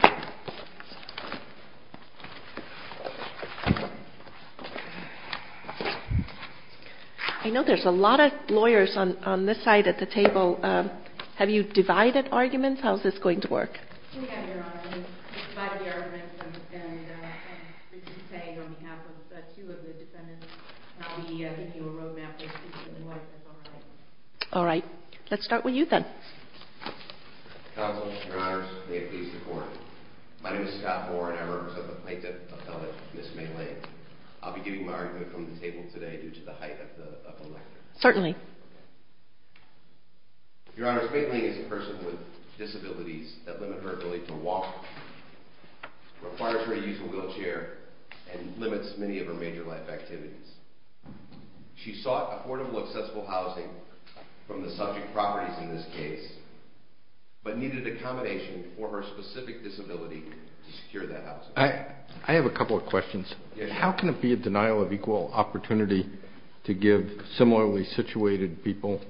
I know there's a lot of lawyers on this side at the table. Have you divided arguments? How is this going to work? We have, Your Honor. We've divided the arguments and we're just saying on behalf of two of the defendants, we'll be giving you a road map of what's going on. All right. Let's start with you then. Counsel, Your Honors, may it please the Court. My name is Scott Moore and I represent the plaintiff appellate, Ms. May Ling. I'll be giving my argument from the table today due to the height of the lecture. Certainly. Your Honors, May Ling is a person with disabilities that limit her ability to walk, requires her a useful wheelchair, and limits many of her major life activities. She sought affordable, accessible housing from the subject properties in this case, but needed accommodation for her specific disability to secure that housing. I have a couple of questions. How can it be a denial of equal opportunity to give similarly situated people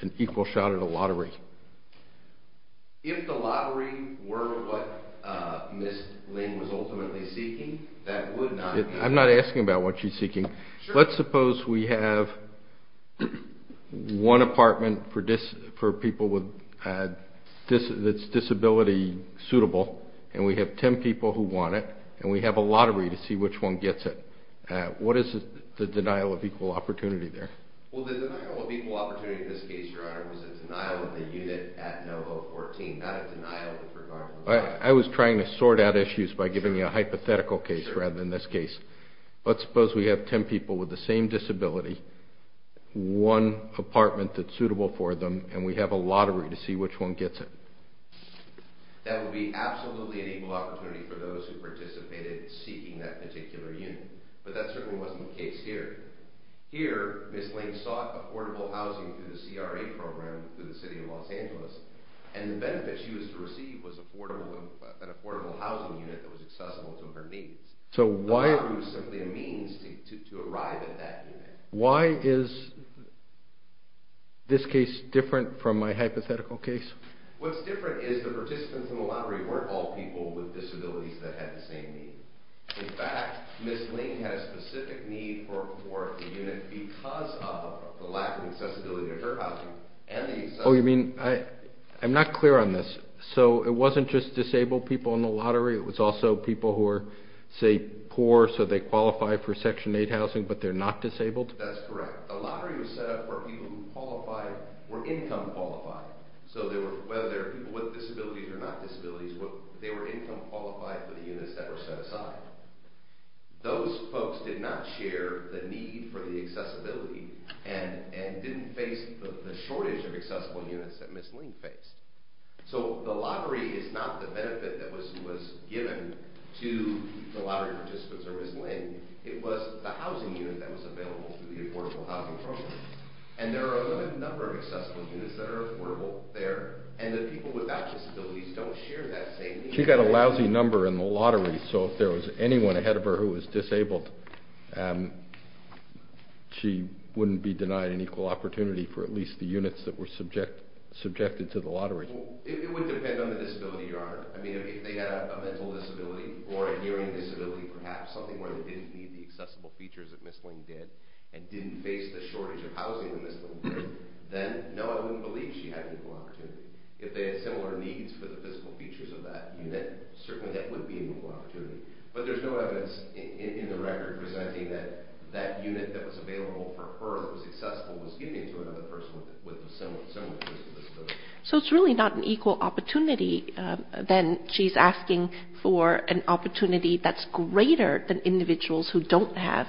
an equal shot at a lottery? If the lottery were what Ms. Ling was ultimately seeking, that would not be... I'm not asking about what she's seeking. Let's suppose we have one apartment that's disability suitable, and we have 10 people who want it, and we have a lottery to see which one gets it. What is the denial of equal opportunity there? Well, the denial of equal opportunity in this case, Your Honor, was a denial of the unit at No. 014, not a denial with regard to... I was trying to sort out issues by giving you a hypothetical case rather than this case. Let's suppose we have 10 people with the same disability, one apartment that's suitable for them, and we have a lottery to see which one gets it. That would be absolutely an equal opportunity for those who participated in seeking that particular unit, but that certainly wasn't the case here. Here, Ms. Ling sought affordable housing through the CRA program through the City of Los Angeles, and the benefit she was to receive was an affordable housing unit that was accessible to her needs. The lottery was simply a means to arrive at that unit. Why is this case different from my hypothetical case? What's different is the participants in the lottery weren't all people with disabilities that had the same need. In fact, Ms. Ling had a specific need for the unit because of the lack of accessibility to her housing and the accessibility... Oh, you mean... I'm not clear on this. So it wasn't just disabled people in the lottery, it was also people who were, say, poor, so they qualified for Section 8 housing, but they're not disabled? That's correct. The lottery was set up for people who qualified, were income qualified. So whether they were people with disabilities or not disabilities, they were income qualified for the units that were set aside. Those folks did not share the need for the accessibility and didn't face the shortage of accessible units that Ms. Ling faced. So the lottery is not the benefit that was given to the lottery participants or Ms. Ling, it was the housing unit that was available through the affordable housing program. And there are a limited number of accessible units that are affordable there, and the people without disabilities don't share that same need. She got a lousy number in the lottery, so if there was anyone ahead of her who was disabled, she wouldn't be denied an equal opportunity for at least the units that were subjected to the lottery. It would depend on the disability, Your Honor. I mean, if they had a mental disability, or a hearing disability perhaps, something where they didn't need the accessible features that Ms. Ling did, and didn't face the shortage of housing that Ms. Ling did, then no, I wouldn't believe she had an equal opportunity. If they had similar needs for the physical features of that unit, certainly that would be an equal opportunity. But there's no evidence in the record presenting that that unit that was available for her, that was accessible, was given to another person with a similar physical disability. So it's really not an equal opportunity, then she's asking for an opportunity that's greater than individuals who don't have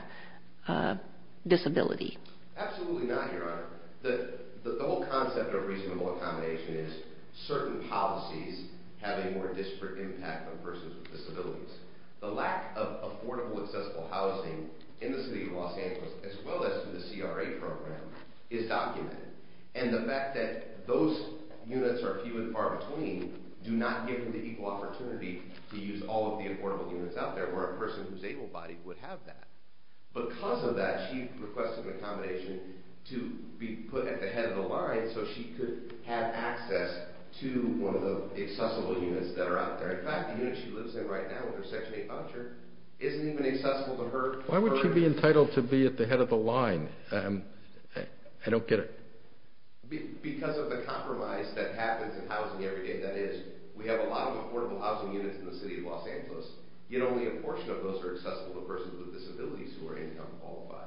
a disability. Absolutely not, Your Honor. The whole concept of reasonable accommodation is certain policies have a more disparate impact on persons with disabilities. The lack of affordable, accessible housing in the city of Los Angeles, as well as through the CRA program, is documented. And the fact that those units are few and far between do not give them the equal opportunity to use all of the affordable units out there, where a person who's able-bodied would have that. Because of that, she requested an accommodation to be put at the head of the line so she could have access to one of the accessible units that are out there. In fact, the unit she lives in right now with her Section 8 voucher isn't even accessible to her. Why would she be entitled to be at the head of the line? I don't get it. Because of the compromise that happens in housing every day, that is, we have a lot of affordable housing units in the city of Los Angeles, yet only a portion of those are accessible to persons with disabilities who are income qualified.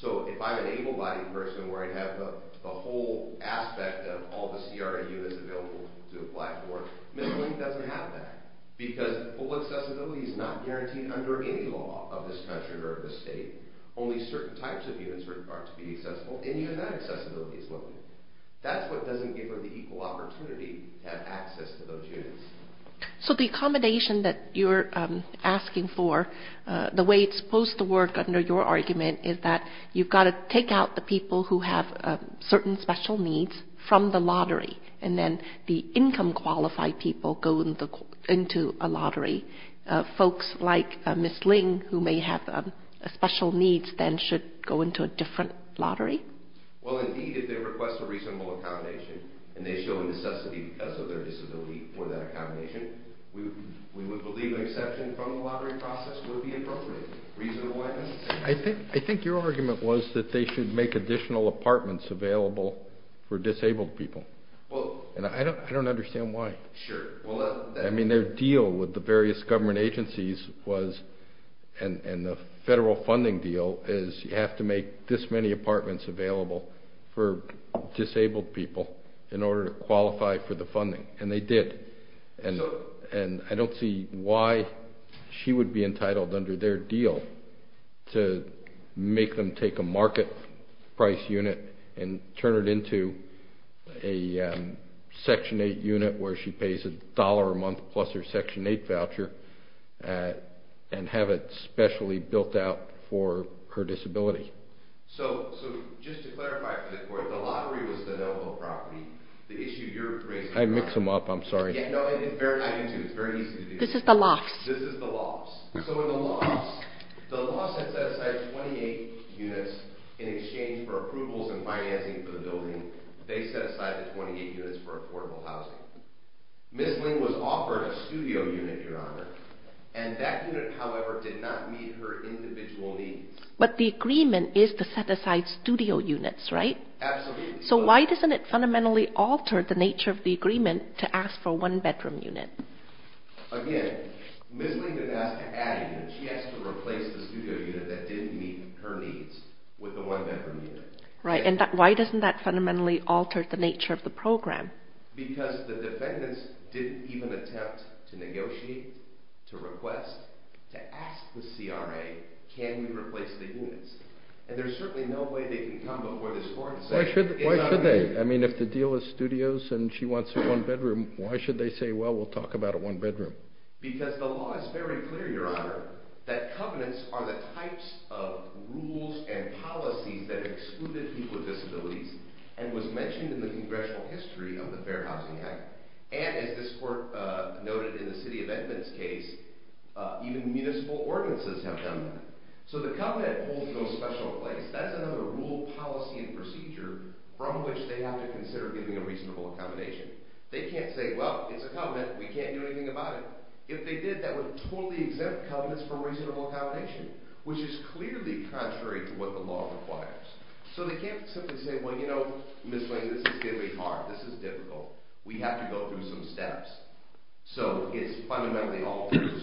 So if I'm an able-bodied person where I have the whole aspect of all the CRA units available to apply for, Ms. Link doesn't have that. Because full accessibility is not guaranteed under any law of this country or of this state. Only certain types of units are required to be accessible, and even that accessibility is limited. That's what doesn't give her the equal opportunity to have access to those units. So the accommodation that you're asking for, the way it's supposed to work under your argument is that you've got to take out the people who have certain special needs from the lottery, and then the income qualified people go into a lottery. Folks like Ms. Link who may have special needs then should go into a different lottery? Well, indeed, if they request a reasonable accommodation and they show a necessity because of their disability for that accommodation, we would believe an exception from the lottery process would be appropriate. I think your argument was that they should make additional apartments available for disabled people, and I don't understand why. Their deal with the various government agencies and the federal funding deal is you have to make this many apartments available for disabled people in order to qualify for the funding, and they did. And I don't see why she would be entitled under their deal to make them take a market price unit and turn it into a Section 8 unit where she pays a dollar a month plus her Section 8 voucher and have it specially built out for her disability. So just to clarify for the court, the lottery was the noble property. The issue you're raising... I mix them up, I'm sorry. Yeah, no, I can do it. It's very easy to do. This is the loss. This is the loss. So in the loss, the loss had set aside 28 units in exchange for approvals and financing for the building. They set aside the 28 units for affordable housing. Ms. Link was offered a studio unit, Your Honor, and that unit, however, did not meet her individual needs. But the agreement is to set aside studio units, right? Absolutely. So why doesn't it fundamentally alter the nature of the agreement to ask for a one-bedroom unit? Again, Ms. Link didn't ask to add a unit. She asked to replace the studio unit that didn't meet her needs with the one-bedroom unit. Right, and why doesn't that fundamentally alter the nature of the program? Because the defendants didn't even attempt to negotiate, to request, to ask the CRA, can we replace the units? And there's certainly no way they can come before this court and say... Why should they? I mean, if the deal is studios and she wants a one-bedroom, why should they say, well, we'll talk about a one-bedroom? Because the law is very clear, Your Honor, that covenants are the types of rules and policies that excluded people with disabilities and was mentioned in the congressional history of the Fair Housing Act. And, as this court noted in the City of Edmonds case, even municipal ordinances have done that. So the covenant holds no special place. That is another rule, policy, and procedure from which they have to consider giving a reasonable accommodation. They can't say, well, it's a covenant, we can't do anything about it. If they did, that would totally exempt covenants from reasonable accommodation, which is clearly contrary to what the law requires. So they can't simply say, well, you know, Ms. Lane, this is going to be hard, this is difficult, we have to go through some steps. So it's fundamentally all through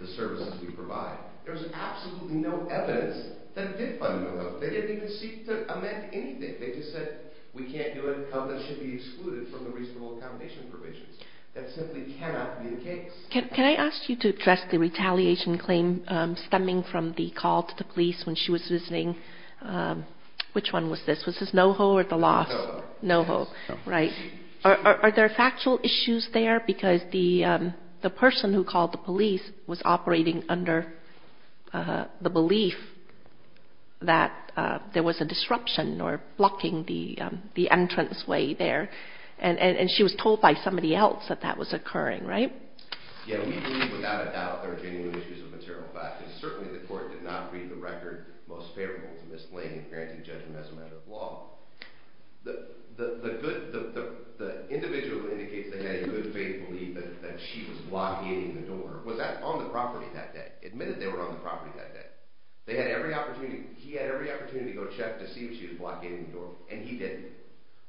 the services we provide. There's absolutely no evidence that it did fundamentally. They didn't even seek to amend anything. They just said, we can't do it, covenants should be excluded from the reasonable accommodation provisions. That simply cannot be the case. Can I ask you to address the retaliation claim stemming from the call to the police when she was visiting? Which one was this? Was this NoHo or the loss? NoHo. NoHo, right. Are there factual issues there? Because the person who called the police was operating under the belief that there was a disruption or blocking the entranceway there. And she was told by somebody else that that was occurring, right? Yeah, we believe without a doubt there are genuine issues of material fact. And certainly the court did not read the record most favorable to Ms. Lane in granting judgment as a matter of law. The individual who indicates they had a good faith belief that she was blockading the door was on the property that day, admitted they were on the property that day. They had every opportunity, he had every opportunity to go check to see if she was blocking the door. And he didn't.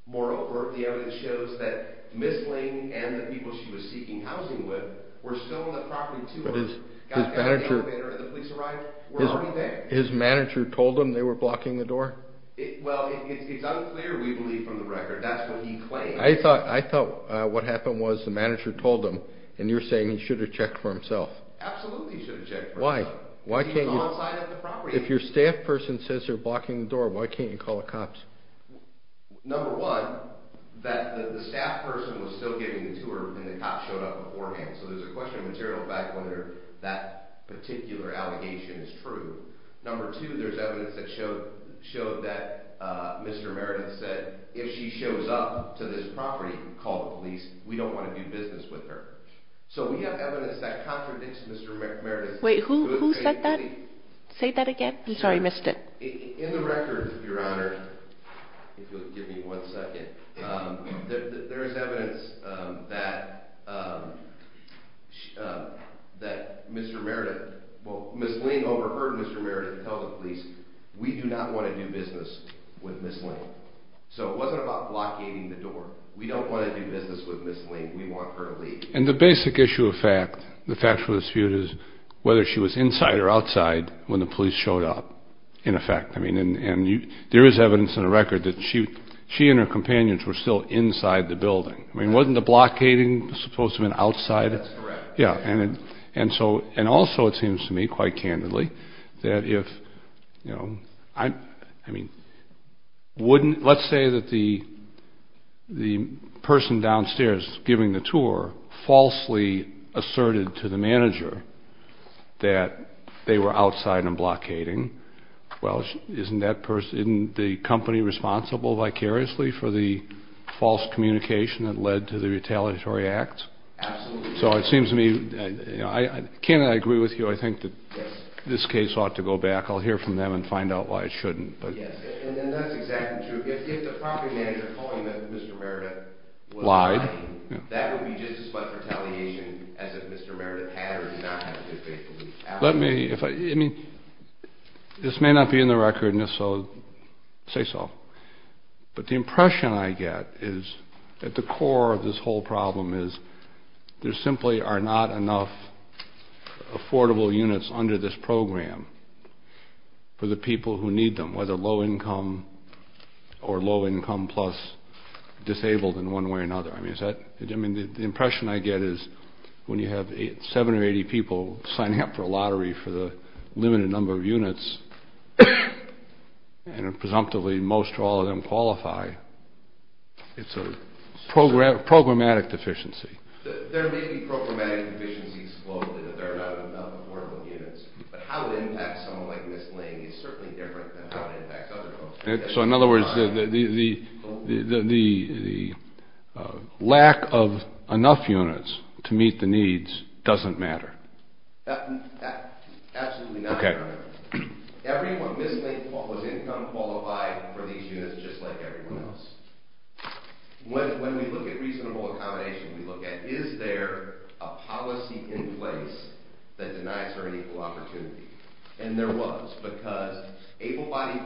Moral of the evidence shows that Ms. Lane and the people she was seeking housing with were still on the property too. But his manager told him they were blocking the door? Well, it's unclear we believe from the record. That's what he claimed. I thought what happened was the manager told him, and you're saying he should have checked for himself. Absolutely he should have checked for himself. Why? If your staff person says you're blocking the door, why can't you call the cops? Number one, that the staff person was still giving the tour and the cops showed up beforehand. So there's a question of material fact whether that particular allegation is true. Number two, there's evidence that showed that Mr. Meredith said if she shows up to this property, call the police. We don't want to do business with her. So we have evidence that contradicts Mr. Meredith. Wait, who said that? Say that again? I'm sorry, I missed it. In the record, Your Honor, if you'll give me one second, there is evidence that Mr. Meredith, well, Ms. Lane overheard Mr. Meredith tell the police we do not want to do business with Ms. Lane. So it wasn't about blockading the door. We don't want to do business with Ms. Lane. We want her to leave. And the basic issue of fact, the factual dispute is whether she was inside or outside when the police showed up, in effect. I mean, and there is evidence in the record that she and her companions were still inside the building. I mean, wasn't the blockading supposed to have been outside? That's correct. And also it seems to me, quite candidly, that if, you know, I mean, wouldn't, let's say that the person downstairs giving the tour falsely asserted to the manager that they were outside and blockading. Well, isn't that person, isn't the company responsible vicariously for the false communication that led to the retaliatory act? Absolutely. So it seems to me, you know, candidly I agree with you, I think that this case ought to go back. I'll hear from them and find out why it shouldn't. Yes, and that's exactly true. If the property manager told you that Mr. Meredith was lying, that would be just as much retaliation as if Mr. Meredith had or did not have a good faith belief. Let me, I mean, this may not be in the record, and if so, say so, but the impression I get is that the core of this whole problem is there simply are not enough affordable units under this program for the people who need them, whether low income or low income plus disabled in one way or another. I mean, the impression I get is when you have seven or 80 people signing up for a lottery for the limited number of units, and presumptively most or all of them qualify, it's a programmatic deficiency. There may be programmatic deficiencies, but how it impacts someone like Ms. Ling is certainly different than how it impacts other folks. So in other words, the lack of enough units to meet the needs doesn't matter? Absolutely not, Your Honor. Everyone, Ms. Ling was income qualified for these units just like everyone else. When we look at reasonable accommodation, we look at is there a policy in place that denies her an equal opportunity? And there was, because able-bodied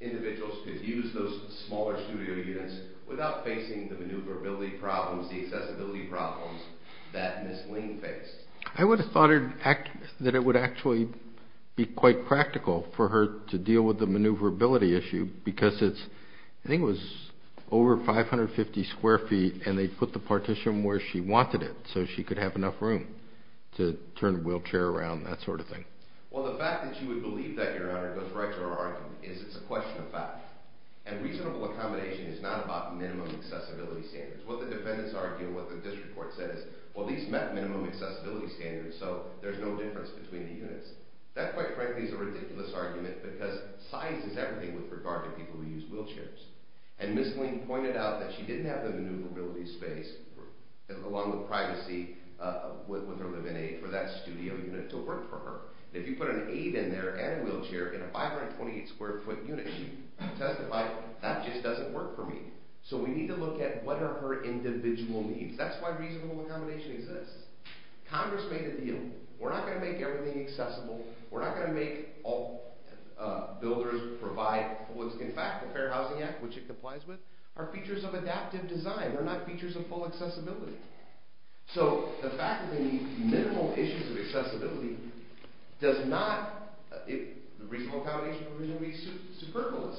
individuals could use those smaller studio units without facing the maneuverability problems, the accessibility problems that Ms. Ling faced. I would have thought that it would actually be quite practical for her to deal with the maneuverability issue, because it's, I think it was over 550 square feet, and they put the partition where she wanted it, so she could have enough room to turn the wheelchair around, that sort of thing. Well, the fact that you would believe that, Your Honor, goes right to our argument, is it's a question of fact. And reasonable accommodation is not about minimum accessibility standards. What the defendants argue and what the district court says is, well, these met minimum accessibility standards, so there's no difference between the units. That, quite frankly, is a ridiculous argument, because size is everything with regard to people who use wheelchairs. And Ms. Ling pointed out that she didn't have the maneuverability space, along with privacy, with her live-in aide, for that studio unit to work for her. If you put an aide in there and a wheelchair in a 528 square foot unit, she testified, that just doesn't work for me. So we need to look at what are her individual needs. That's why reasonable accommodation exists. Congress made a deal. We're not going to make everything accessible. We're not going to make all builders provide what's in fact the Fair Housing Act, which it complies with. Our features of adaptive design are not features of full accessibility. So the fact that we need minimal issues of accessibility does not, reasonable accommodation would be superfluous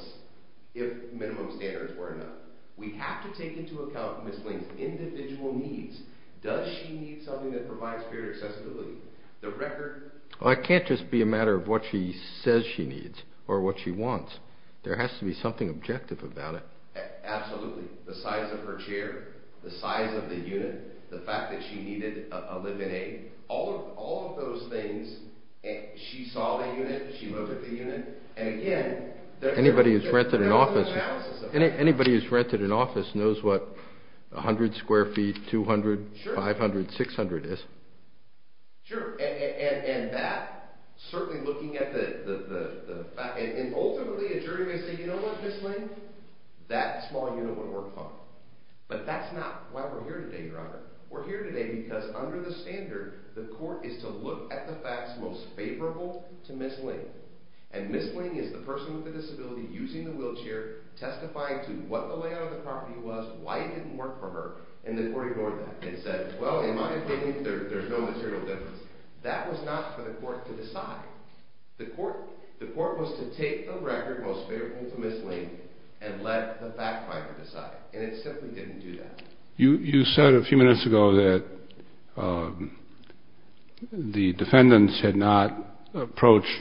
if minimum standards were enough. We have to take into account Ms. Ling's individual needs. Does she need something that provides greater accessibility? The record... Well, it can't just be a matter of what she says she needs, or what she wants. There has to be something objective about it. Absolutely. The size of her chair, the size of the unit, the fact that she needed a live-in aide, all of those things, she saw the unit, she looked at the unit, and again... Anybody who's rented an office knows what 100 square feet, 200, 500, 600 is. Sure. And that, certainly looking at the fact, and ultimately a jury may say, you know what, Ms. Ling, that small unit would work fine. But that's not why we're here today, Your Honor. We're here today because under the standard, the court is to look at the facts most favorable to Ms. Ling. And Ms. Ling is the person with the disability, using the wheelchair, testifying to what the layout of the property was, why it didn't work for her, and the court ignored that. It said, well, in my opinion, there's no material difference. That was not for the court to decide. The court was to take the record most favorable to Ms. Ling and let the fact finder decide. And it simply didn't do that. You said a few minutes ago that the defendants had not approached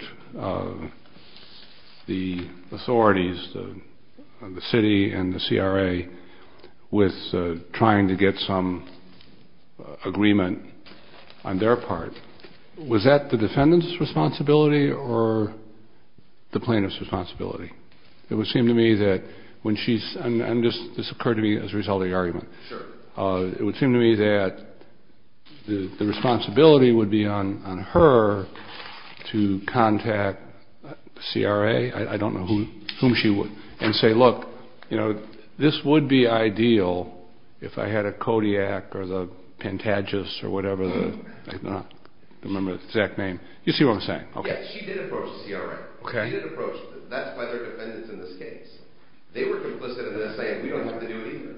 the authorities, the city and the CRA, with trying to get some agreement on their part. Was that the defendant's responsibility or the plaintiff's responsibility? It would seem to me that when she's, and this occurred to me as a result of the argument, it would seem to me that the responsibility would be on her to contact the CRA, I don't know whom she would, and say, look, you know, this would be ideal if I had a Kodiak or the Pentagis or whatever the, I don't remember the exact name. Yes, she did approach the CRA. She did approach them. That's why they're defendants in this case. They were complicit in this saying, we don't have to do it either.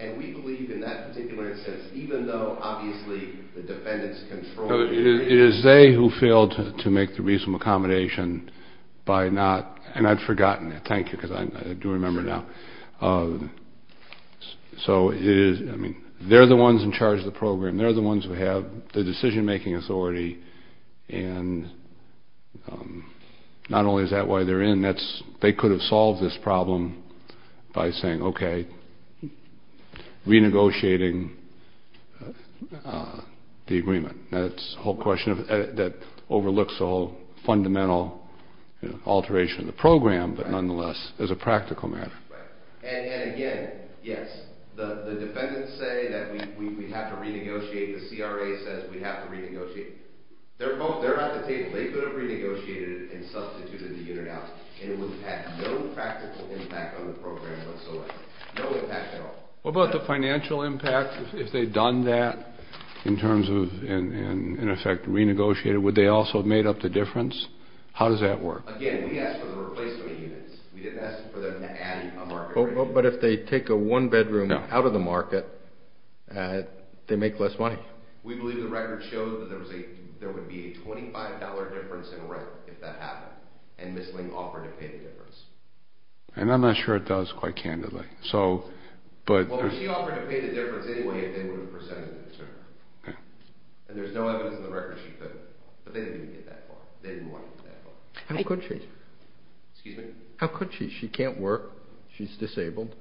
And we believe in that particular instance, even though, obviously, the defendants controlled it. It is they who failed to make the reasonable accommodation by not, and I'd forgotten it, thank you, because I do remember now. So it is, I mean, they're the ones in charge of the program. They're the ones who have the decision-making authority. And not only is that why they're in, that's, they could have solved this problem by saying, okay, renegotiating the agreement. That's the whole question that overlooks the whole fundamental alteration of the program, but nonetheless, as a practical matter. And again, yes, the defendants say that we have to renegotiate. The CRA says we have to renegotiate. They're both, they're at the table. They could have renegotiated and substituted the unit out, and it would have had no practical impact on the program whatsoever. No impact at all. What about the financial impact, if they'd done that, in terms of, in effect, renegotiated, would they also have made up the difference? How does that work? Again, we asked for the replacement units. We didn't ask for them to add a market rate. But if they take a one-bedroom out of the market, they make less money. We believe the record showed that there was a, there would be a $25 difference in rent if that happened, and Ms. Ling offered to pay the difference. And I'm not sure it does, quite candidly. Well, she offered to pay the difference anyway if they would have presented it to her. And there's no evidence in the record she couldn't. But they didn't want to get that far. How could she? Excuse me? How could she? She can't work. She's disabled.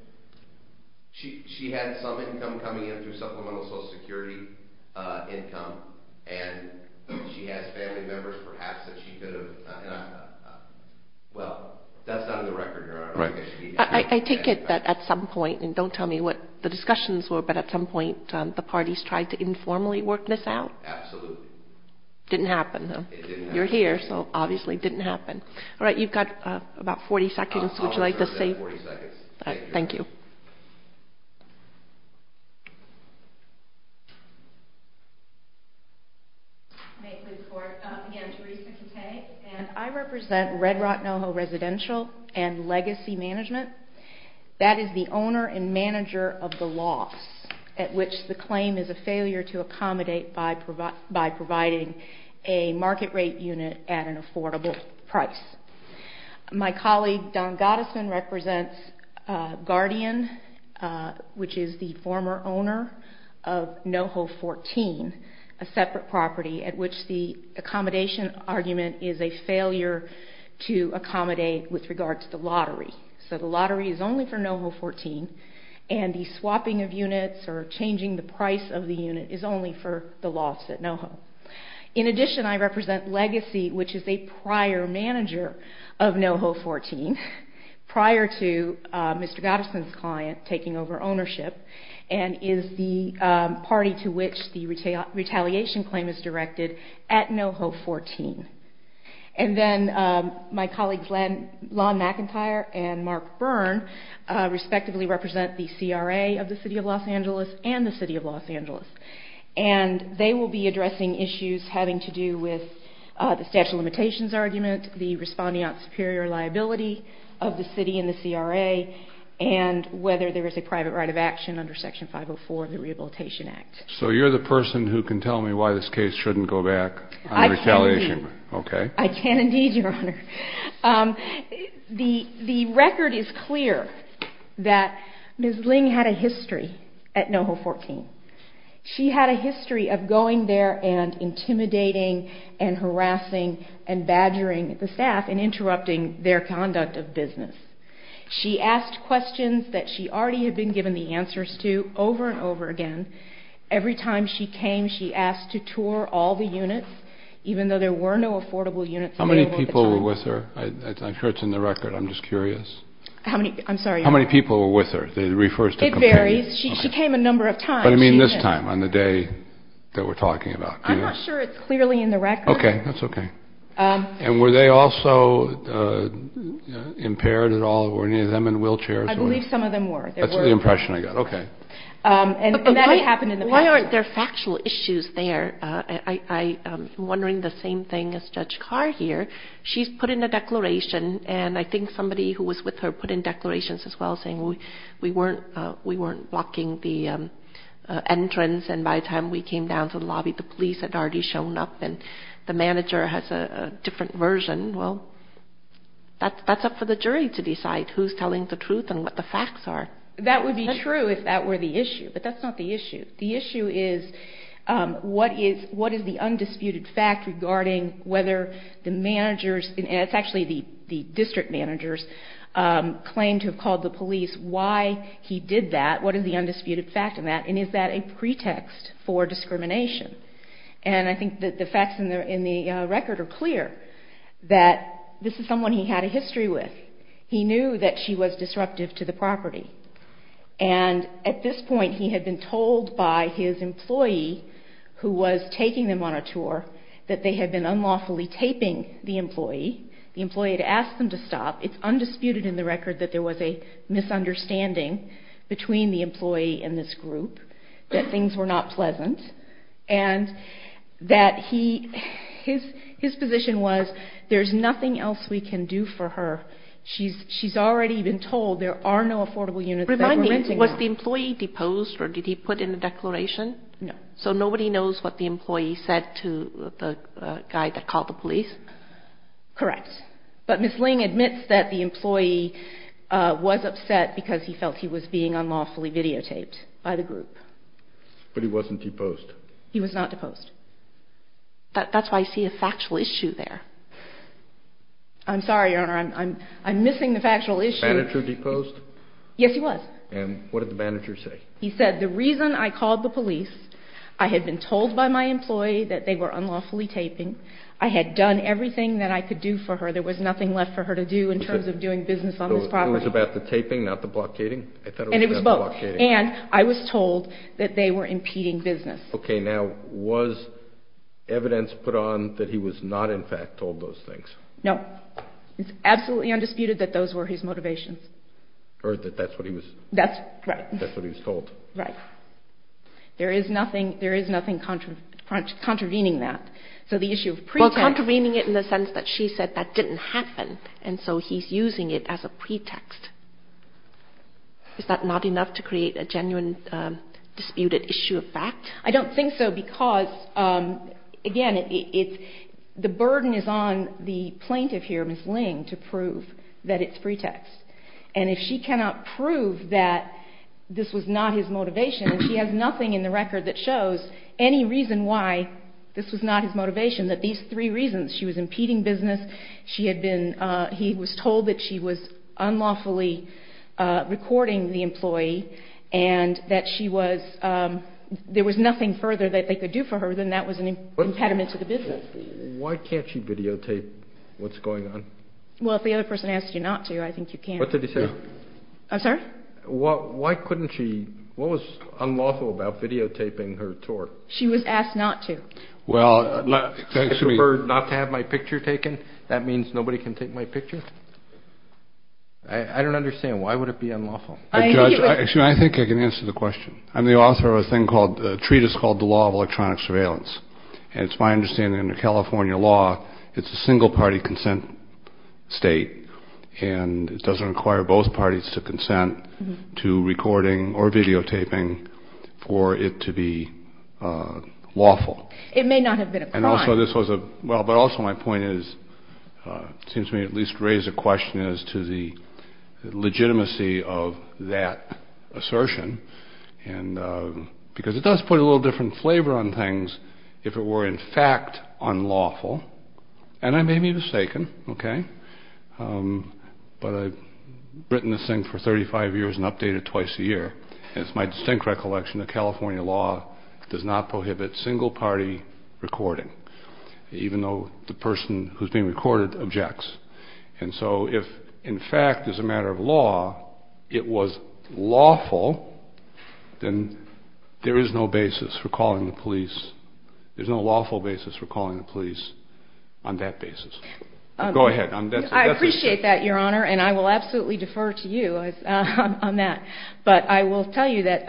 She had some income coming in through supplemental Social Security income, and she has family members, perhaps, that she could have, well, that's not in the record, Your Honor. I take it that at some point, and don't tell me what the discussions were, but at some point the parties tried to informally work this out? Absolutely. Didn't happen, though. It didn't happen. You're here, so obviously it didn't happen. All right, you've got about 40 seconds. Would you like to say? I'll reserve that 40 seconds. All right, thank you. May it please the Court. Again, Theresa Conteh, and I represent Red Rock NoHo Residential and Legacy Management. That is the owner and manager of the loss at which the claim is a failure to accommodate by providing a market rate unit at an affordable price. My colleague, Don Gottesman, represents Guardian, which is the former owner of NoHo 14, a separate property at which the accommodation argument is a failure to accommodate with regard to the lottery. So the lottery is only for NoHo 14, and the swapping of units or changing the price of the unit is only for the loss at NoHo. In addition, I represent Legacy, which is a prior manager of NoHo 14, prior to Mr. Gottesman's client taking over ownership, and is the party to which the retaliation claim is directed at NoHo 14. And then my colleagues, Lon McIntyre and Mark Byrne, respectively represent the CRA of the City of Los Angeles and the City of Los Angeles. And they will be addressing issues having to do with the statute of limitations argument, the responding out superior liability of the city and the CRA, and whether there is a private right of action under Section 504 of the Rehabilitation Act. So you're the person who can tell me why this case shouldn't go back on retaliation? I can indeed, Your Honor. The record is clear that Ms. Ling had a history at NoHo 14. She had a history of going there and intimidating and harassing and badgering the staff and interrupting their conduct of business. She asked questions that she already had been given the answers to over and over again. Every time she came, she asked to tour all the units, even though there were no affordable units available at the time. How many people were with her? I'm sure it's in the record. I'm just curious. I'm sorry, Your Honor. How many people were with her? It varies. She came a number of times. But I mean this time, on the day that we're talking about. I'm not sure it's clearly in the record. Okay. That's okay. And were they also impaired at all? Were any of them in wheelchairs? I believe some of them were. That's the impression I got. Okay. And that happened in the past. Why aren't there factual issues there? I'm wondering the same thing as Judge Carr here. She's put in a declaration, and I think somebody who was with her put in declarations as well, saying we weren't blocking the entrance. And by the time we came down to the lobby, the police had already shown up, and the manager has a different version. Well, that's up for the jury to decide who's telling the truth and what the facts are. That would be true if that were the issue. But that's not the issue. The issue is what is the undisputed fact regarding whether the managers, and it's actually the district managers, claimed to have called the police. Why he did that? What is the undisputed fact in that? And is that a pretext for discrimination? And I think that the facts in the record are clear, that this is someone he had a history with. He knew that she was disruptive to the property. And at this point, he had been told by his employee, who was taking them on a tour, that they had been unlawfully taping the employee. The employee had asked them to stop. It's undisputed in the record that there was a misunderstanding between the employee and this group, that things were not pleasant, and that his position was, there's nothing else we can do for her. She's already been told there are no affordable units. Remind me, was the employee deposed, or did he put in a declaration? No. So nobody knows what the employee said to the guy that called the police? Correct. But Ms. Ling admits that the employee was upset because he felt he was being unlawfully videotaped by the group. But he wasn't deposed? He was not deposed. That's why I see a factual issue there. I'm sorry, Your Honor, I'm missing the factual issue. The manager deposed? Yes, he was. And what did the manager say? He said, the reason I called the police, I had been told by my employee that they were unlawfully taping, I had done everything that I could do for her, there was nothing left for her to do in terms of doing business on this property. It was about the taping, not the blockading? And it was both. And I was told that they were impeding business. Okay. Now, was evidence put on that he was not, in fact, told those things? No. It's absolutely undisputed that those were his motivations. Or that that's what he was told. Right. There is nothing contravening that. So the issue of pretext. Well, contravening it in the sense that she said that didn't happen, and so he's using it as a pretext. Is that not enough to create a genuine disputed issue of fact? I don't think so because, again, the burden is on the plaintiff here, Ms. Ling, to prove that it's pretext. And if she cannot prove that this was not his motivation, and she has nothing in the record that shows any reason why this was not his motivation, that these three reasons, she was impeding business, he was told that she was unlawfully recording the employee, and that there was nothing further that they could do for her, then that was an impediment to the business. Why can't she videotape what's going on? Well, if the other person asked you not to, I think you can. What did he say? I'm sorry? Why couldn't she? What was unlawful about videotaping her tour? She was asked not to. Well, for her not to have my picture taken, that means nobody can take my picture? I don't understand. Why would it be unlawful? Judge, I think I can answer the question. I'm the author of a thing called, a treatise called the Law of Electronic Surveillance. And it's my understanding in the California law, it's a single-party consent state, and it doesn't require both parties to consent to recording or videotaping for it to be lawful. It may not have been a crime. And also this was a, well, but also my point is, seems to me at least raise a question as to the legitimacy of that assertion, because it does put a little different flavor on things if it were in fact unlawful. And I may be mistaken, okay? But I've written this thing for 35 years and updated it twice a year. And it's my distinct recollection the California law does not prohibit single-party recording, even though the person who's being recorded objects. And so if, in fact, as a matter of law, it was lawful, then there is no basis for calling the police. There's no lawful basis for calling the police on that basis. Go ahead. I appreciate that, Your Honor, and I will absolutely defer to you on that. But I will tell you that.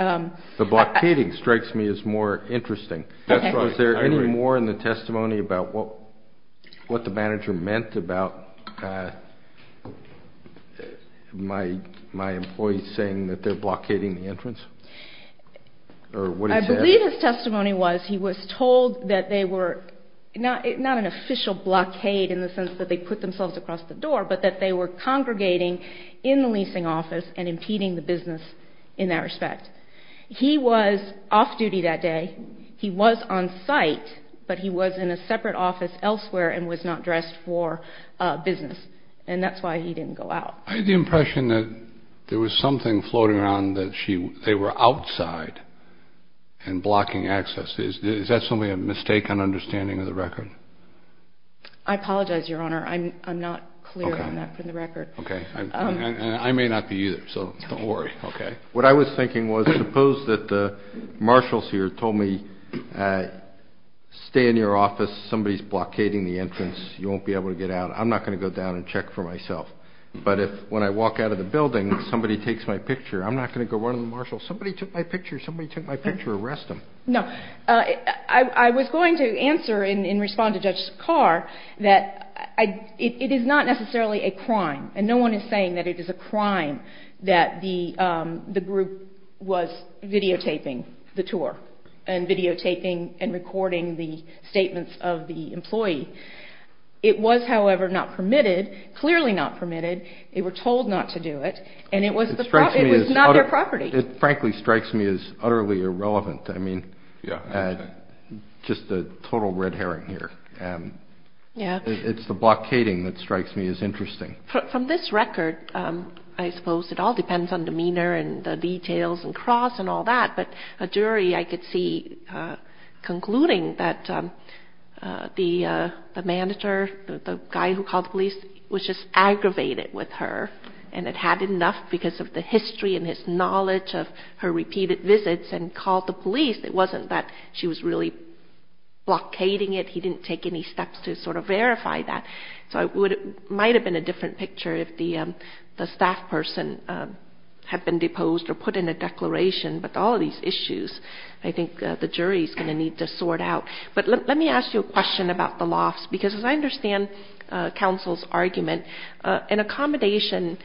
The blockading strikes me as more interesting. Was there any more in the testimony about what the manager meant about my employees saying that they're blockading the entrance? I believe his testimony was he was told that they were not an official blockade in the sense that they put themselves across the door, but that they were congregating in the leasing office and impeding the business in that respect. He was off duty that day. He was on site, but he was in a separate office elsewhere and was not dressed for business, and that's why he didn't go out. I had the impression that there was something floating around that they were outside and blocking access. Is that simply a mistake on understanding of the record? I apologize, Your Honor. I'm not clear on that for the record. Okay. And I may not be either, so don't worry. Okay. What I was thinking was suppose that the marshals here told me, stay in your office. Somebody's blockading the entrance. You won't be able to get out. I'm not going to go down and check for myself. But if when I walk out of the building, somebody takes my picture, I'm not going to go run to the marshal. Somebody took my picture. Somebody took my picture. Arrest them. No. I was going to answer and respond to Judge Carr that it is not necessarily a crime, and no one is saying that it is a crime that the group was videotaping the tour and videotaping and recording the statements of the employee. It was, however, not permitted, clearly not permitted. They were told not to do it, and it was not their property. It frankly strikes me as utterly irrelevant. I mean, just a total red herring here. It's the blockading that strikes me as interesting. From this record, I suppose it all depends on demeanor and the details and cross and all that, but a jury I could see concluding that the manager, the guy who called the police, was just aggravated with her, and it had enough because of the history and his knowledge of her repeated visits and called the police. It wasn't that she was really blockading it. He didn't take any steps to sort of verify that. So it might have been a different picture if the staff person had been deposed or put in a declaration, but all of these issues I think the jury is going to need to sort out. But let me ask you a question about the lofts, because as I understand counsel's argument, an accommodation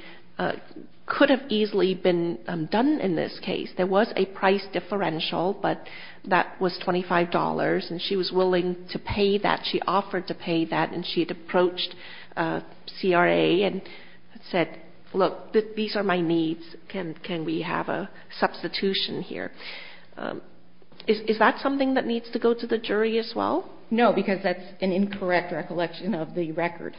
could have easily been done in this case. There was a price differential, but that was $25, and she was willing to pay that, she offered to pay that, and she had approached CRA and said, look, these are my needs. Can we have a substitution here? Is that something that needs to go to the jury as well? No, because that's an incorrect recollection of the record.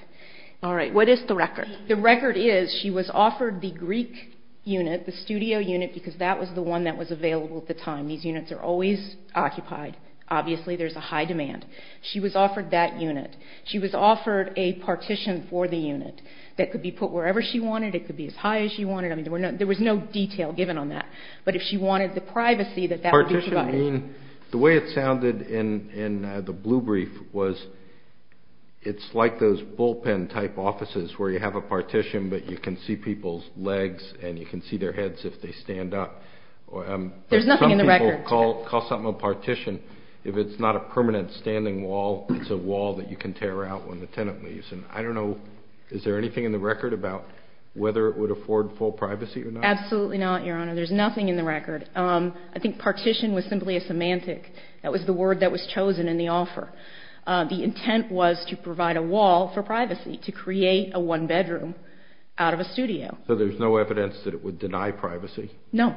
All right. What is the record? The record is she was offered the Greek unit, the studio unit, because that was the one that was available at the time. These units are always occupied. Obviously there's a high demand. She was offered that unit. She was offered a partition for the unit that could be put wherever she wanted. It could be as high as she wanted. I mean, there was no detail given on that. But if she wanted the privacy that that would be provided. Partition, the way it sounded in the blue brief was it's like those bullpen-type offices where you have a partition but you can see people's legs and you can see their heads if they stand up. There's nothing in the record. Some people call something a partition if it's not a permanent standing wall. It's a wall that you can tear out when the tenant leaves. I don't know. Is there anything in the record about whether it would afford full privacy or not? Absolutely not, Your Honor. There's nothing in the record. I think partition was simply a semantic. That was the word that was chosen in the offer. The intent was to provide a wall for privacy, to create a one-bedroom out of a studio. So there's no evidence that it would deny privacy? No,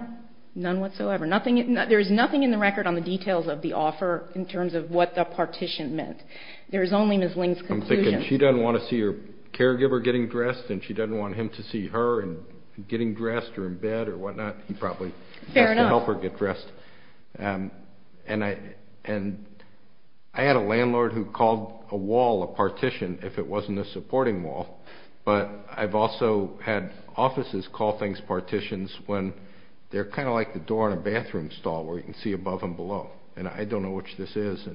none whatsoever. There's nothing in the record on the details of the offer in terms of what the partition meant. There's only Ms. Ling's conclusions. I'm thinking she doesn't want to see her caregiver getting dressed and she doesn't want him to see her getting dressed or in bed or whatnot. He probably has to help her get dressed. Fair enough. And I had a landlord who called a wall a partition if it wasn't a supporting wall. But I've also had offices call things partitions when they're kind of like the door in a bathroom stall where you can see above and below, and I don't know which this is.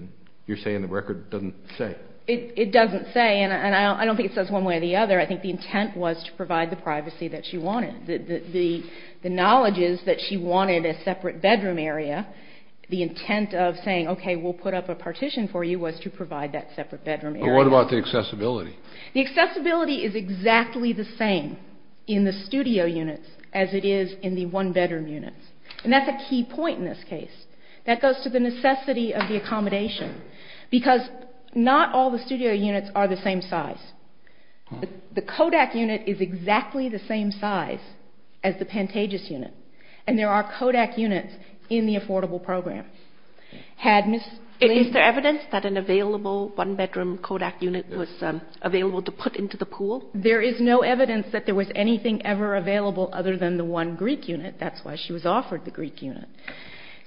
You're saying the record doesn't say? It doesn't say, and I don't think it says one way or the other. I think the intent was to provide the privacy that she wanted. The knowledge is that she wanted a separate bedroom area. The intent of saying, okay, we'll put up a partition for you was to provide that separate bedroom area. But what about the accessibility? The accessibility is exactly the same in the studio units as it is in the one-bedroom units, and that's a key point in this case. That goes to the necessity of the accommodation because not all the studio units are the same size. The Kodak unit is exactly the same size as the Pantages unit, and there are Kodak units in the affordable program. Is there evidence that an available one-bedroom Kodak unit was available to put into the pool? There is no evidence that there was anything ever available other than the one Greek unit. That's why she was offered the Greek unit.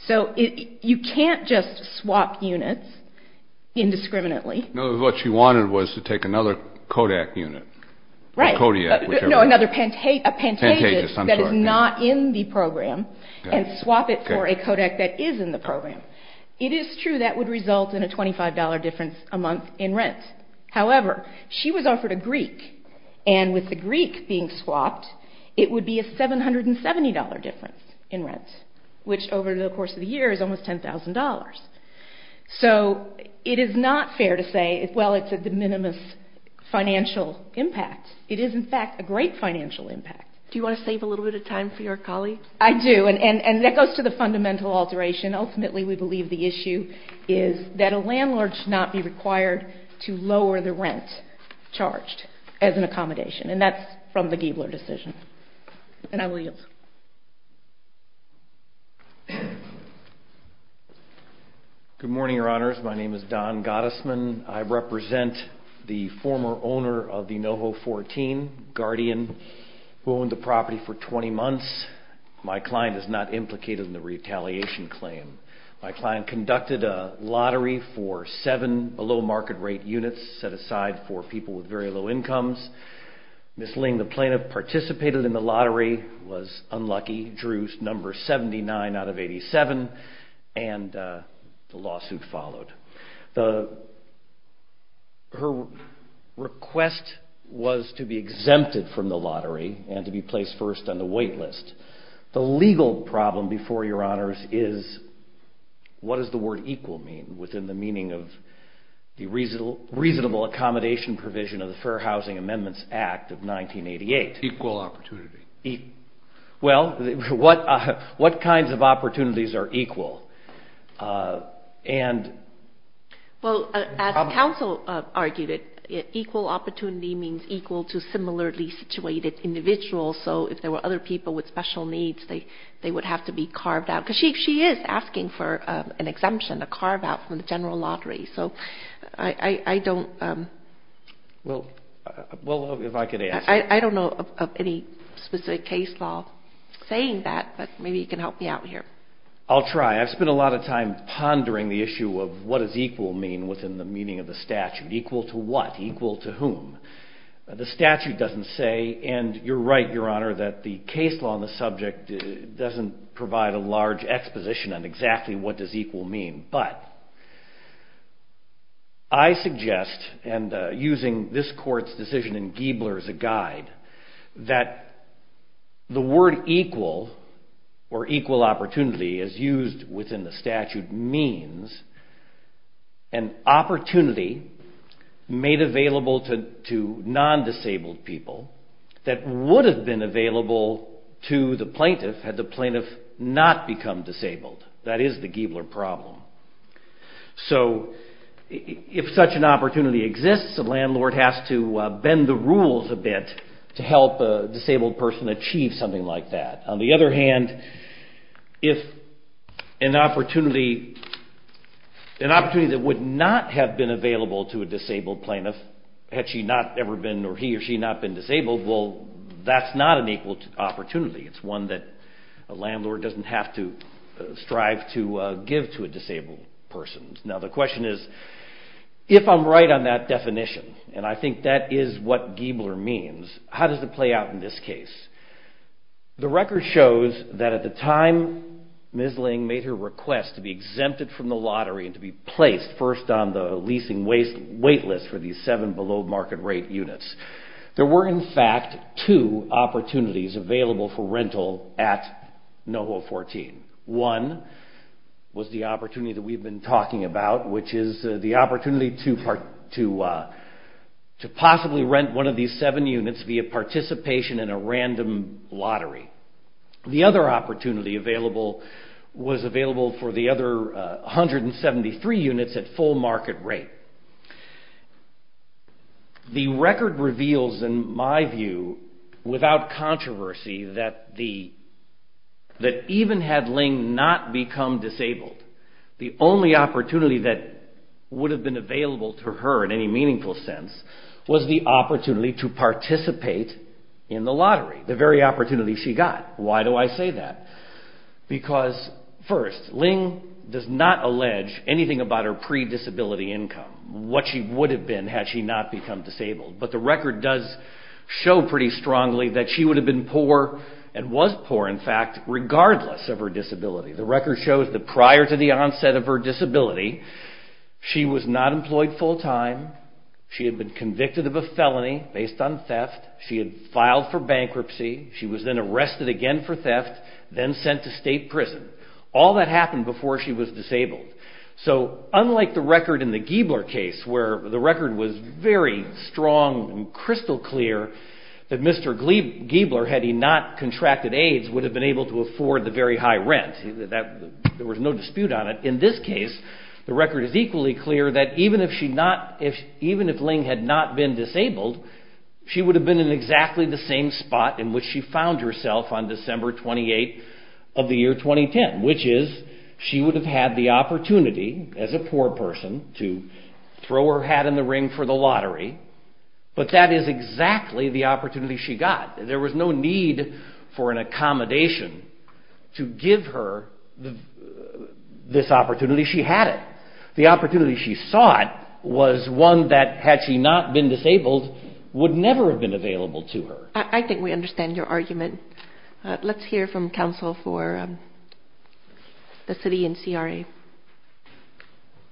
So you can't just swap units indiscriminately. No, what she wanted was to take another Kodak unit, Kodiak, whichever. No, another Pantages that is not in the program and swap it for a Kodak that is in the program. It is true that would result in a $25 difference a month in rent. However, she was offered a Greek, and with the Greek being swapped, it would be a $770 difference in rent, which over the course of the year is almost $10,000. So it is not fair to say, well, it's a de minimis financial impact. It is, in fact, a great financial impact. Do you want to save a little bit of time for your colleague? I do, and that goes to the fundamental alteration. Ultimately, we believe the issue is that a landlord should not be required to lower the rent charged as an accommodation, and that's from the Giebeler decision. And I will yield. Good morning, Your Honors. My name is Don Gottesman. I represent the former owner of the NoHo 14, Guardian, who owned the property for 20 months. My client is not implicated in the retaliation claim. My client conducted a lottery for seven below-market-rate units set aside for people with very low incomes. Ms. Ling, the plaintiff, participated in the lottery, was unlucky, drew number 79 out of 87, and the lawsuit followed. Her request was to be exempted from the lottery and to be placed first on the wait list. The legal problem before Your Honors is, what does the word equal mean, within the meaning of the reasonable accommodation provision of the Fair Housing Amendments Act of 1988? Equal opportunity. Well, what kinds of opportunities are equal? Well, as counsel argued it, equal opportunity means equal to similarly situated individuals. So if there were other people with special needs, they would have to be carved out. Because she is asking for an exemption, a carve-out from the general lottery. So I don't know of any specific case law saying that, but maybe you can help me out here. I'll try. I've spent a lot of time pondering the issue of what does equal mean within the meaning of the statute. Equal to what? Equal to whom? The statute doesn't say, and you're right, Your Honor, that the case law on the subject doesn't provide a large exposition on exactly what does equal mean. But I suggest, and using this court's decision in Giebler as a guide, that the word equal, or equal opportunity as used within the statute, means an opportunity made available to non-disabled people that would have been available to the plaintiff had the plaintiff not become disabled. That is the Giebler problem. So if such an opportunity exists, a landlord has to bend the rules a bit to help a disabled person achieve something like that. On the other hand, if an opportunity that would not have been available to a disabled plaintiff had he or she not been disabled, well, that's not an equal opportunity. It's one that a landlord doesn't have to strive to give to a disabled person. Now the question is, if I'm right on that definition, and I think that is what Giebler means, how does it play out in this case? The record shows that at the time Ms. Ling made her request to be exempted from the lottery and to be placed first on the leasing wait list for these seven below market rate units, there were in fact two opportunities available for rental at NOHO 14. One was the opportunity that we've been talking about, which is the opportunity to possibly rent one of these seven units via participation in a random lottery. The other opportunity was available for the other 173 units at full market rate. The record reveals, in my view, without controversy, that even had Ling not become disabled, the only opportunity that would have been available to her in any meaningful sense was the opportunity to participate in the lottery, the very opportunity she got. Why do I say that? Because, first, Ling does not allege anything about her pre-disability income, what she would have been had she not become disabled. But the record does show pretty strongly that she would have been poor, and was poor in fact, regardless of her disability. The record shows that prior to the onset of her disability, she was not employed full time, she had been convicted of a felony based on theft, she had filed for bankruptcy, she was then arrested again for theft, then sent to state prison. All that happened before she was disabled. So, unlike the record in the Giebler case, where the record was very strong and crystal clear that Mr. Giebler, had he not contracted AIDS, would have been able to afford the very high rent. There was no dispute on it. In this case, the record is equally clear that even if Ling had not been disabled, she would have been in exactly the same spot in which she found herself on December 28th of the year 2010. Which is, she would have had the opportunity, as a poor person, to throw her hat in the ring for the lottery, but that is exactly the opportunity she got. There was no need for an accommodation to give her this opportunity, she had it. The opportunity she sought was one that, had she not been disabled, would never have been available to her. I think we understand your argument. Let's hear from counsel for the city and CRA.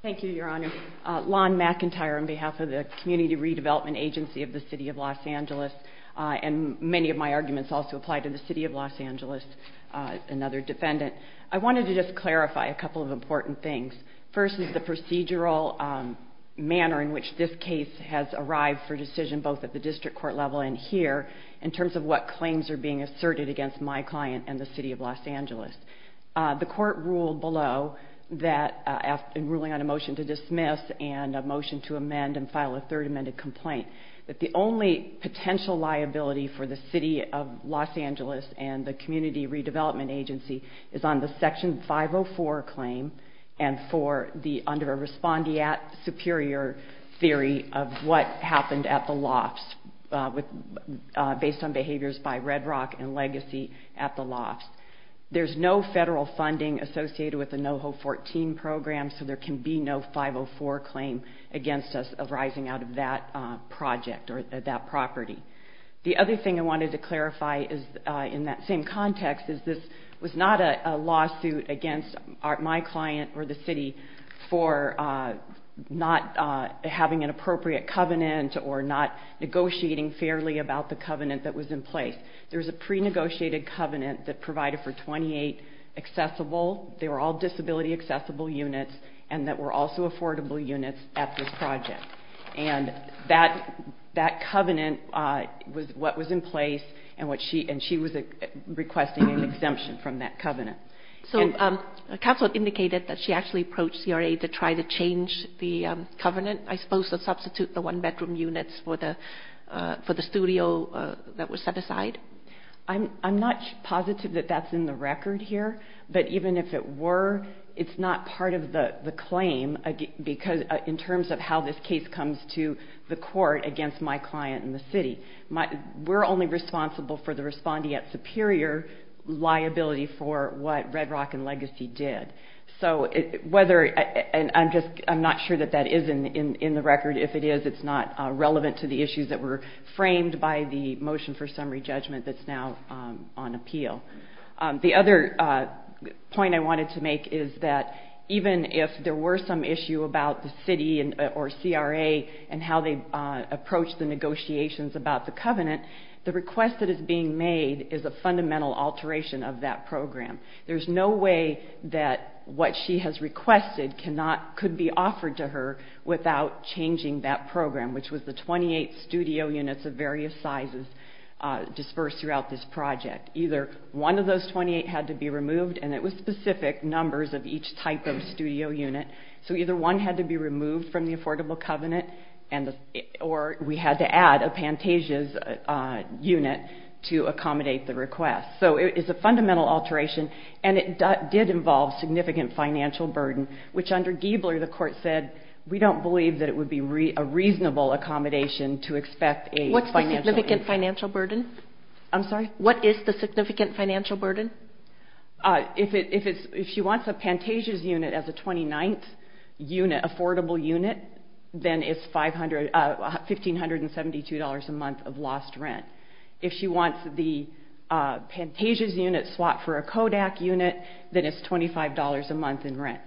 Thank you, Your Honor. Lon McIntyre on behalf of the Community Redevelopment Agency of the City of Los Angeles, and many of my arguments also apply to the City of Los Angeles, another defendant. I wanted to just clarify a couple of important things. First is the procedural manner in which this case has arrived for decision, both at the district court level and here, in terms of what claims are being asserted against my client and the City of Los Angeles. The court ruled below, in ruling on a motion to dismiss and a motion to amend and file a third amended complaint, that the only potential liability for the City of Los Angeles and the Community Redevelopment Agency is on the Section 504 claim and under a respondeat superior theory of what happened at the lofts, based on behaviors by Red Rock and Legacy at the lofts. There's no federal funding associated with the NOHO 14 program, so there can be no 504 claim against us arising out of that project or that property. The other thing I wanted to clarify, in that same context, is this was not a lawsuit against my client or the City for not having an appropriate covenant or not negotiating fairly about the covenant that was in place. There was a pre-negotiated covenant that provided for 28 accessible, they were all disability accessible units, and that were also affordable units at this project. And that covenant was what was in place and she was requesting an exemption from that covenant. So counsel indicated that she actually approached CRA to try to change the covenant, I suppose to substitute the one-bedroom units for the studio that was set aside? I'm not positive that that's in the record here, but even if it were, it's not part of the claim, in terms of how this case comes to the court against my client and the City. We're only responsible for the respondeat superior liability for what Red Rock and Legacy did. So I'm not sure that that is in the record. If it is, it's not relevant to the issues that were framed by the motion for summary judgment that's now on appeal. The other point I wanted to make is that even if there were some issue about the City or CRA and how they approached the negotiations about the covenant, the request that is being made is a fundamental alteration of that program. There's no way that what she has requested could be offered to her without changing that program, which was the 28 studio units of various sizes dispersed throughout this project, either one of those 28 had to be removed, and it was specific numbers of each type of studio unit. So either one had to be removed from the Affordable Covenant, or we had to add a Pantages unit to accommodate the request. So it is a fundamental alteration, and it did involve significant financial burden, which under Giebler the court said, we don't believe that it would be a reasonable accommodation to expect a financial burden. What's the significant financial burden? I'm sorry? What is the significant financial burden? If she wants a Pantages unit as a 29th affordable unit, then it's $1,572 a month of lost rent. If she wants the Pantages unit swapped for a Kodak unit, then it's $25 a month in rent.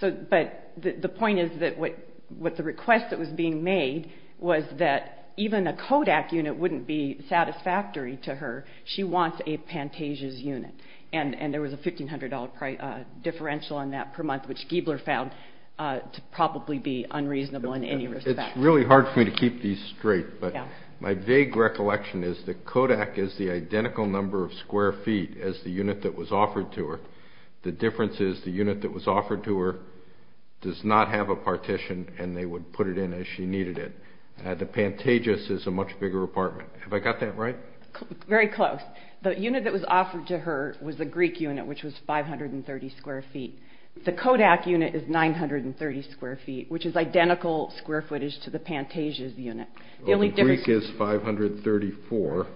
But the point is that the request that was being made was that even a Kodak unit wouldn't be satisfactory to her. She wants a Pantages unit, and there was a $1,500 differential on that per month, which Giebler found to probably be unreasonable in any respect. It's really hard for me to keep these straight, but my vague recollection is that Kodak is the identical number of square feet as the unit that was offered to her. The difference is the unit that was offered to her does not have a partition, and they would put it in as she needed it. The Pantages is a much bigger apartment. Have I got that right? Very close. The unit that was offered to her was a Greek unit, which was 530 square feet. The Kodak unit is 930 square feet, which is identical square footage to the Pantages unit. The Greek is 534,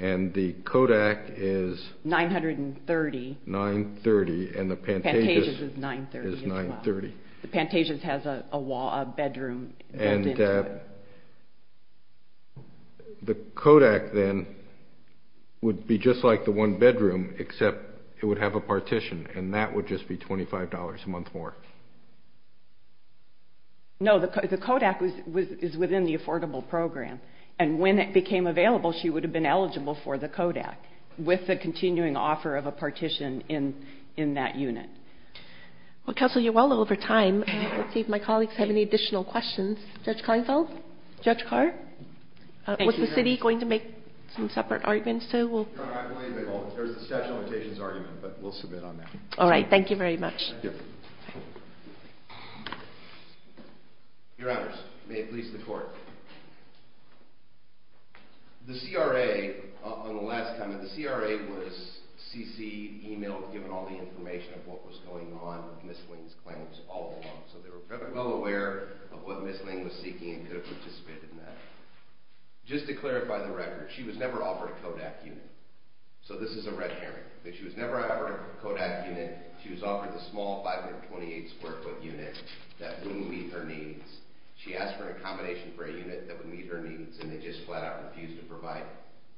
and the Kodak is 930, and the Pantages is 930. The Pantages has a wall, a bedroom built into it. The Kodak, then, would be just like the one bedroom, except it would have a partition, and that would just be $25 a month more. No, the Kodak is within the affordable program, and when it became available she would have been eligible for the Kodak with the continuing offer of a partition in that unit. Well, Counselor, you're well over time. Let's see if my colleagues have any additional questions. Judge Kleinfeld? Judge Carr? Was the city going to make some separate arguments, too? There was a statute of limitations argument, but we'll submit on that. All right. Thank you very much. Thank you. Your Honors, may it please the Court. The CRA, on the last time, the CRA was CC-emailed, given all the information of what was going on with Ms. Ling's claims all along, so they were well aware of what Ms. Ling was seeking and could have participated in that. Just to clarify the record, she was never offered a Kodak unit, so this is a red herring. She was never offered a Kodak unit. She was offered the small 528-square-foot unit that would meet her needs. She asked for an accommodation for a unit that would meet her needs, and they just flat-out refused to provide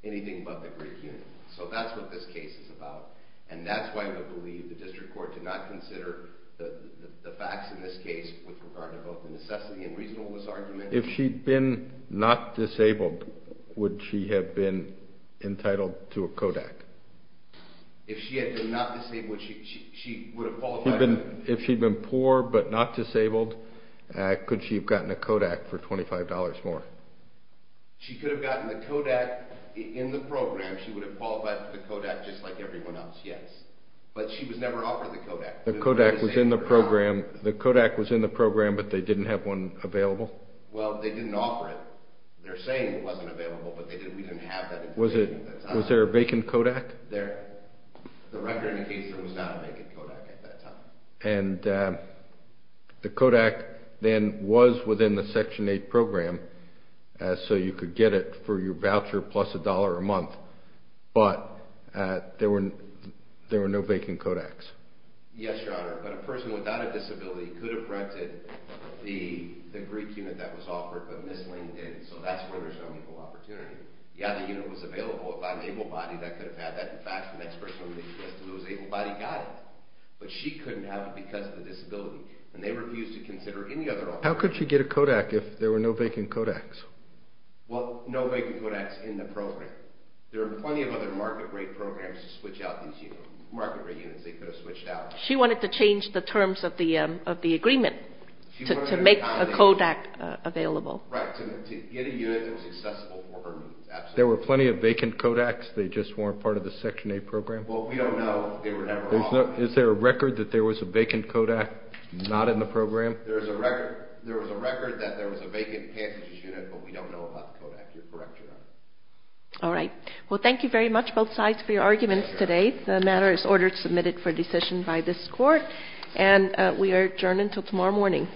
anything but the Greek unit. So that's what this case is about, and that's why we believe the district court did not consider the facts in this case with regard to both the necessity and reasonableness argument. If she had been not disabled, would she have been entitled to a Kodak? If she had been not disabled, she would have qualified. If she had been poor but not disabled, could she have gotten a Kodak for $25 more? She could have gotten the Kodak in the program. She would have qualified for the Kodak just like everyone else, yes. But she was never offered the Kodak. The Kodak was in the program, but they didn't have one available? Well, they didn't offer it. They're saying it wasn't available, but we didn't have that information at the time. Was there a vacant Kodak? The record indicator was not a vacant Kodak at that time. And the Kodak then was within the Section 8 program, so you could get it for your voucher plus a dollar a month, but there were no vacant Kodaks. Yes, Your Honor. But a person without a disability could have rented the Greek unit that was offered, but Ms. Lane did, so that's where there's no equal opportunity. Yeah, the unit was available. If I'm able-bodied, I could have had that. In fact, the next person who was able-bodied got it, but she couldn't have it because of the disability, and they refused to consider any other option. How could she get a Kodak if there were no vacant Kodaks? Well, no vacant Kodaks in the program. There are plenty of other market rate programs to switch out these units. Market rate units they could have switched out. She wanted to change the terms of the agreement to make a Kodak available. Right, to get a unit that was accessible for her. There were plenty of vacant Kodaks, they just weren't part of the Section 8 program? Well, we don't know. Is there a record that there was a vacant Kodak not in the program? There was a record that there was a vacant passengers unit, but we don't know about the Kodak. You're correct, Your Honor. All right. Well, thank you very much, both sides, for your arguments today. The matter is ordered to be submitted for decision by this Court, and we are adjourned until tomorrow morning.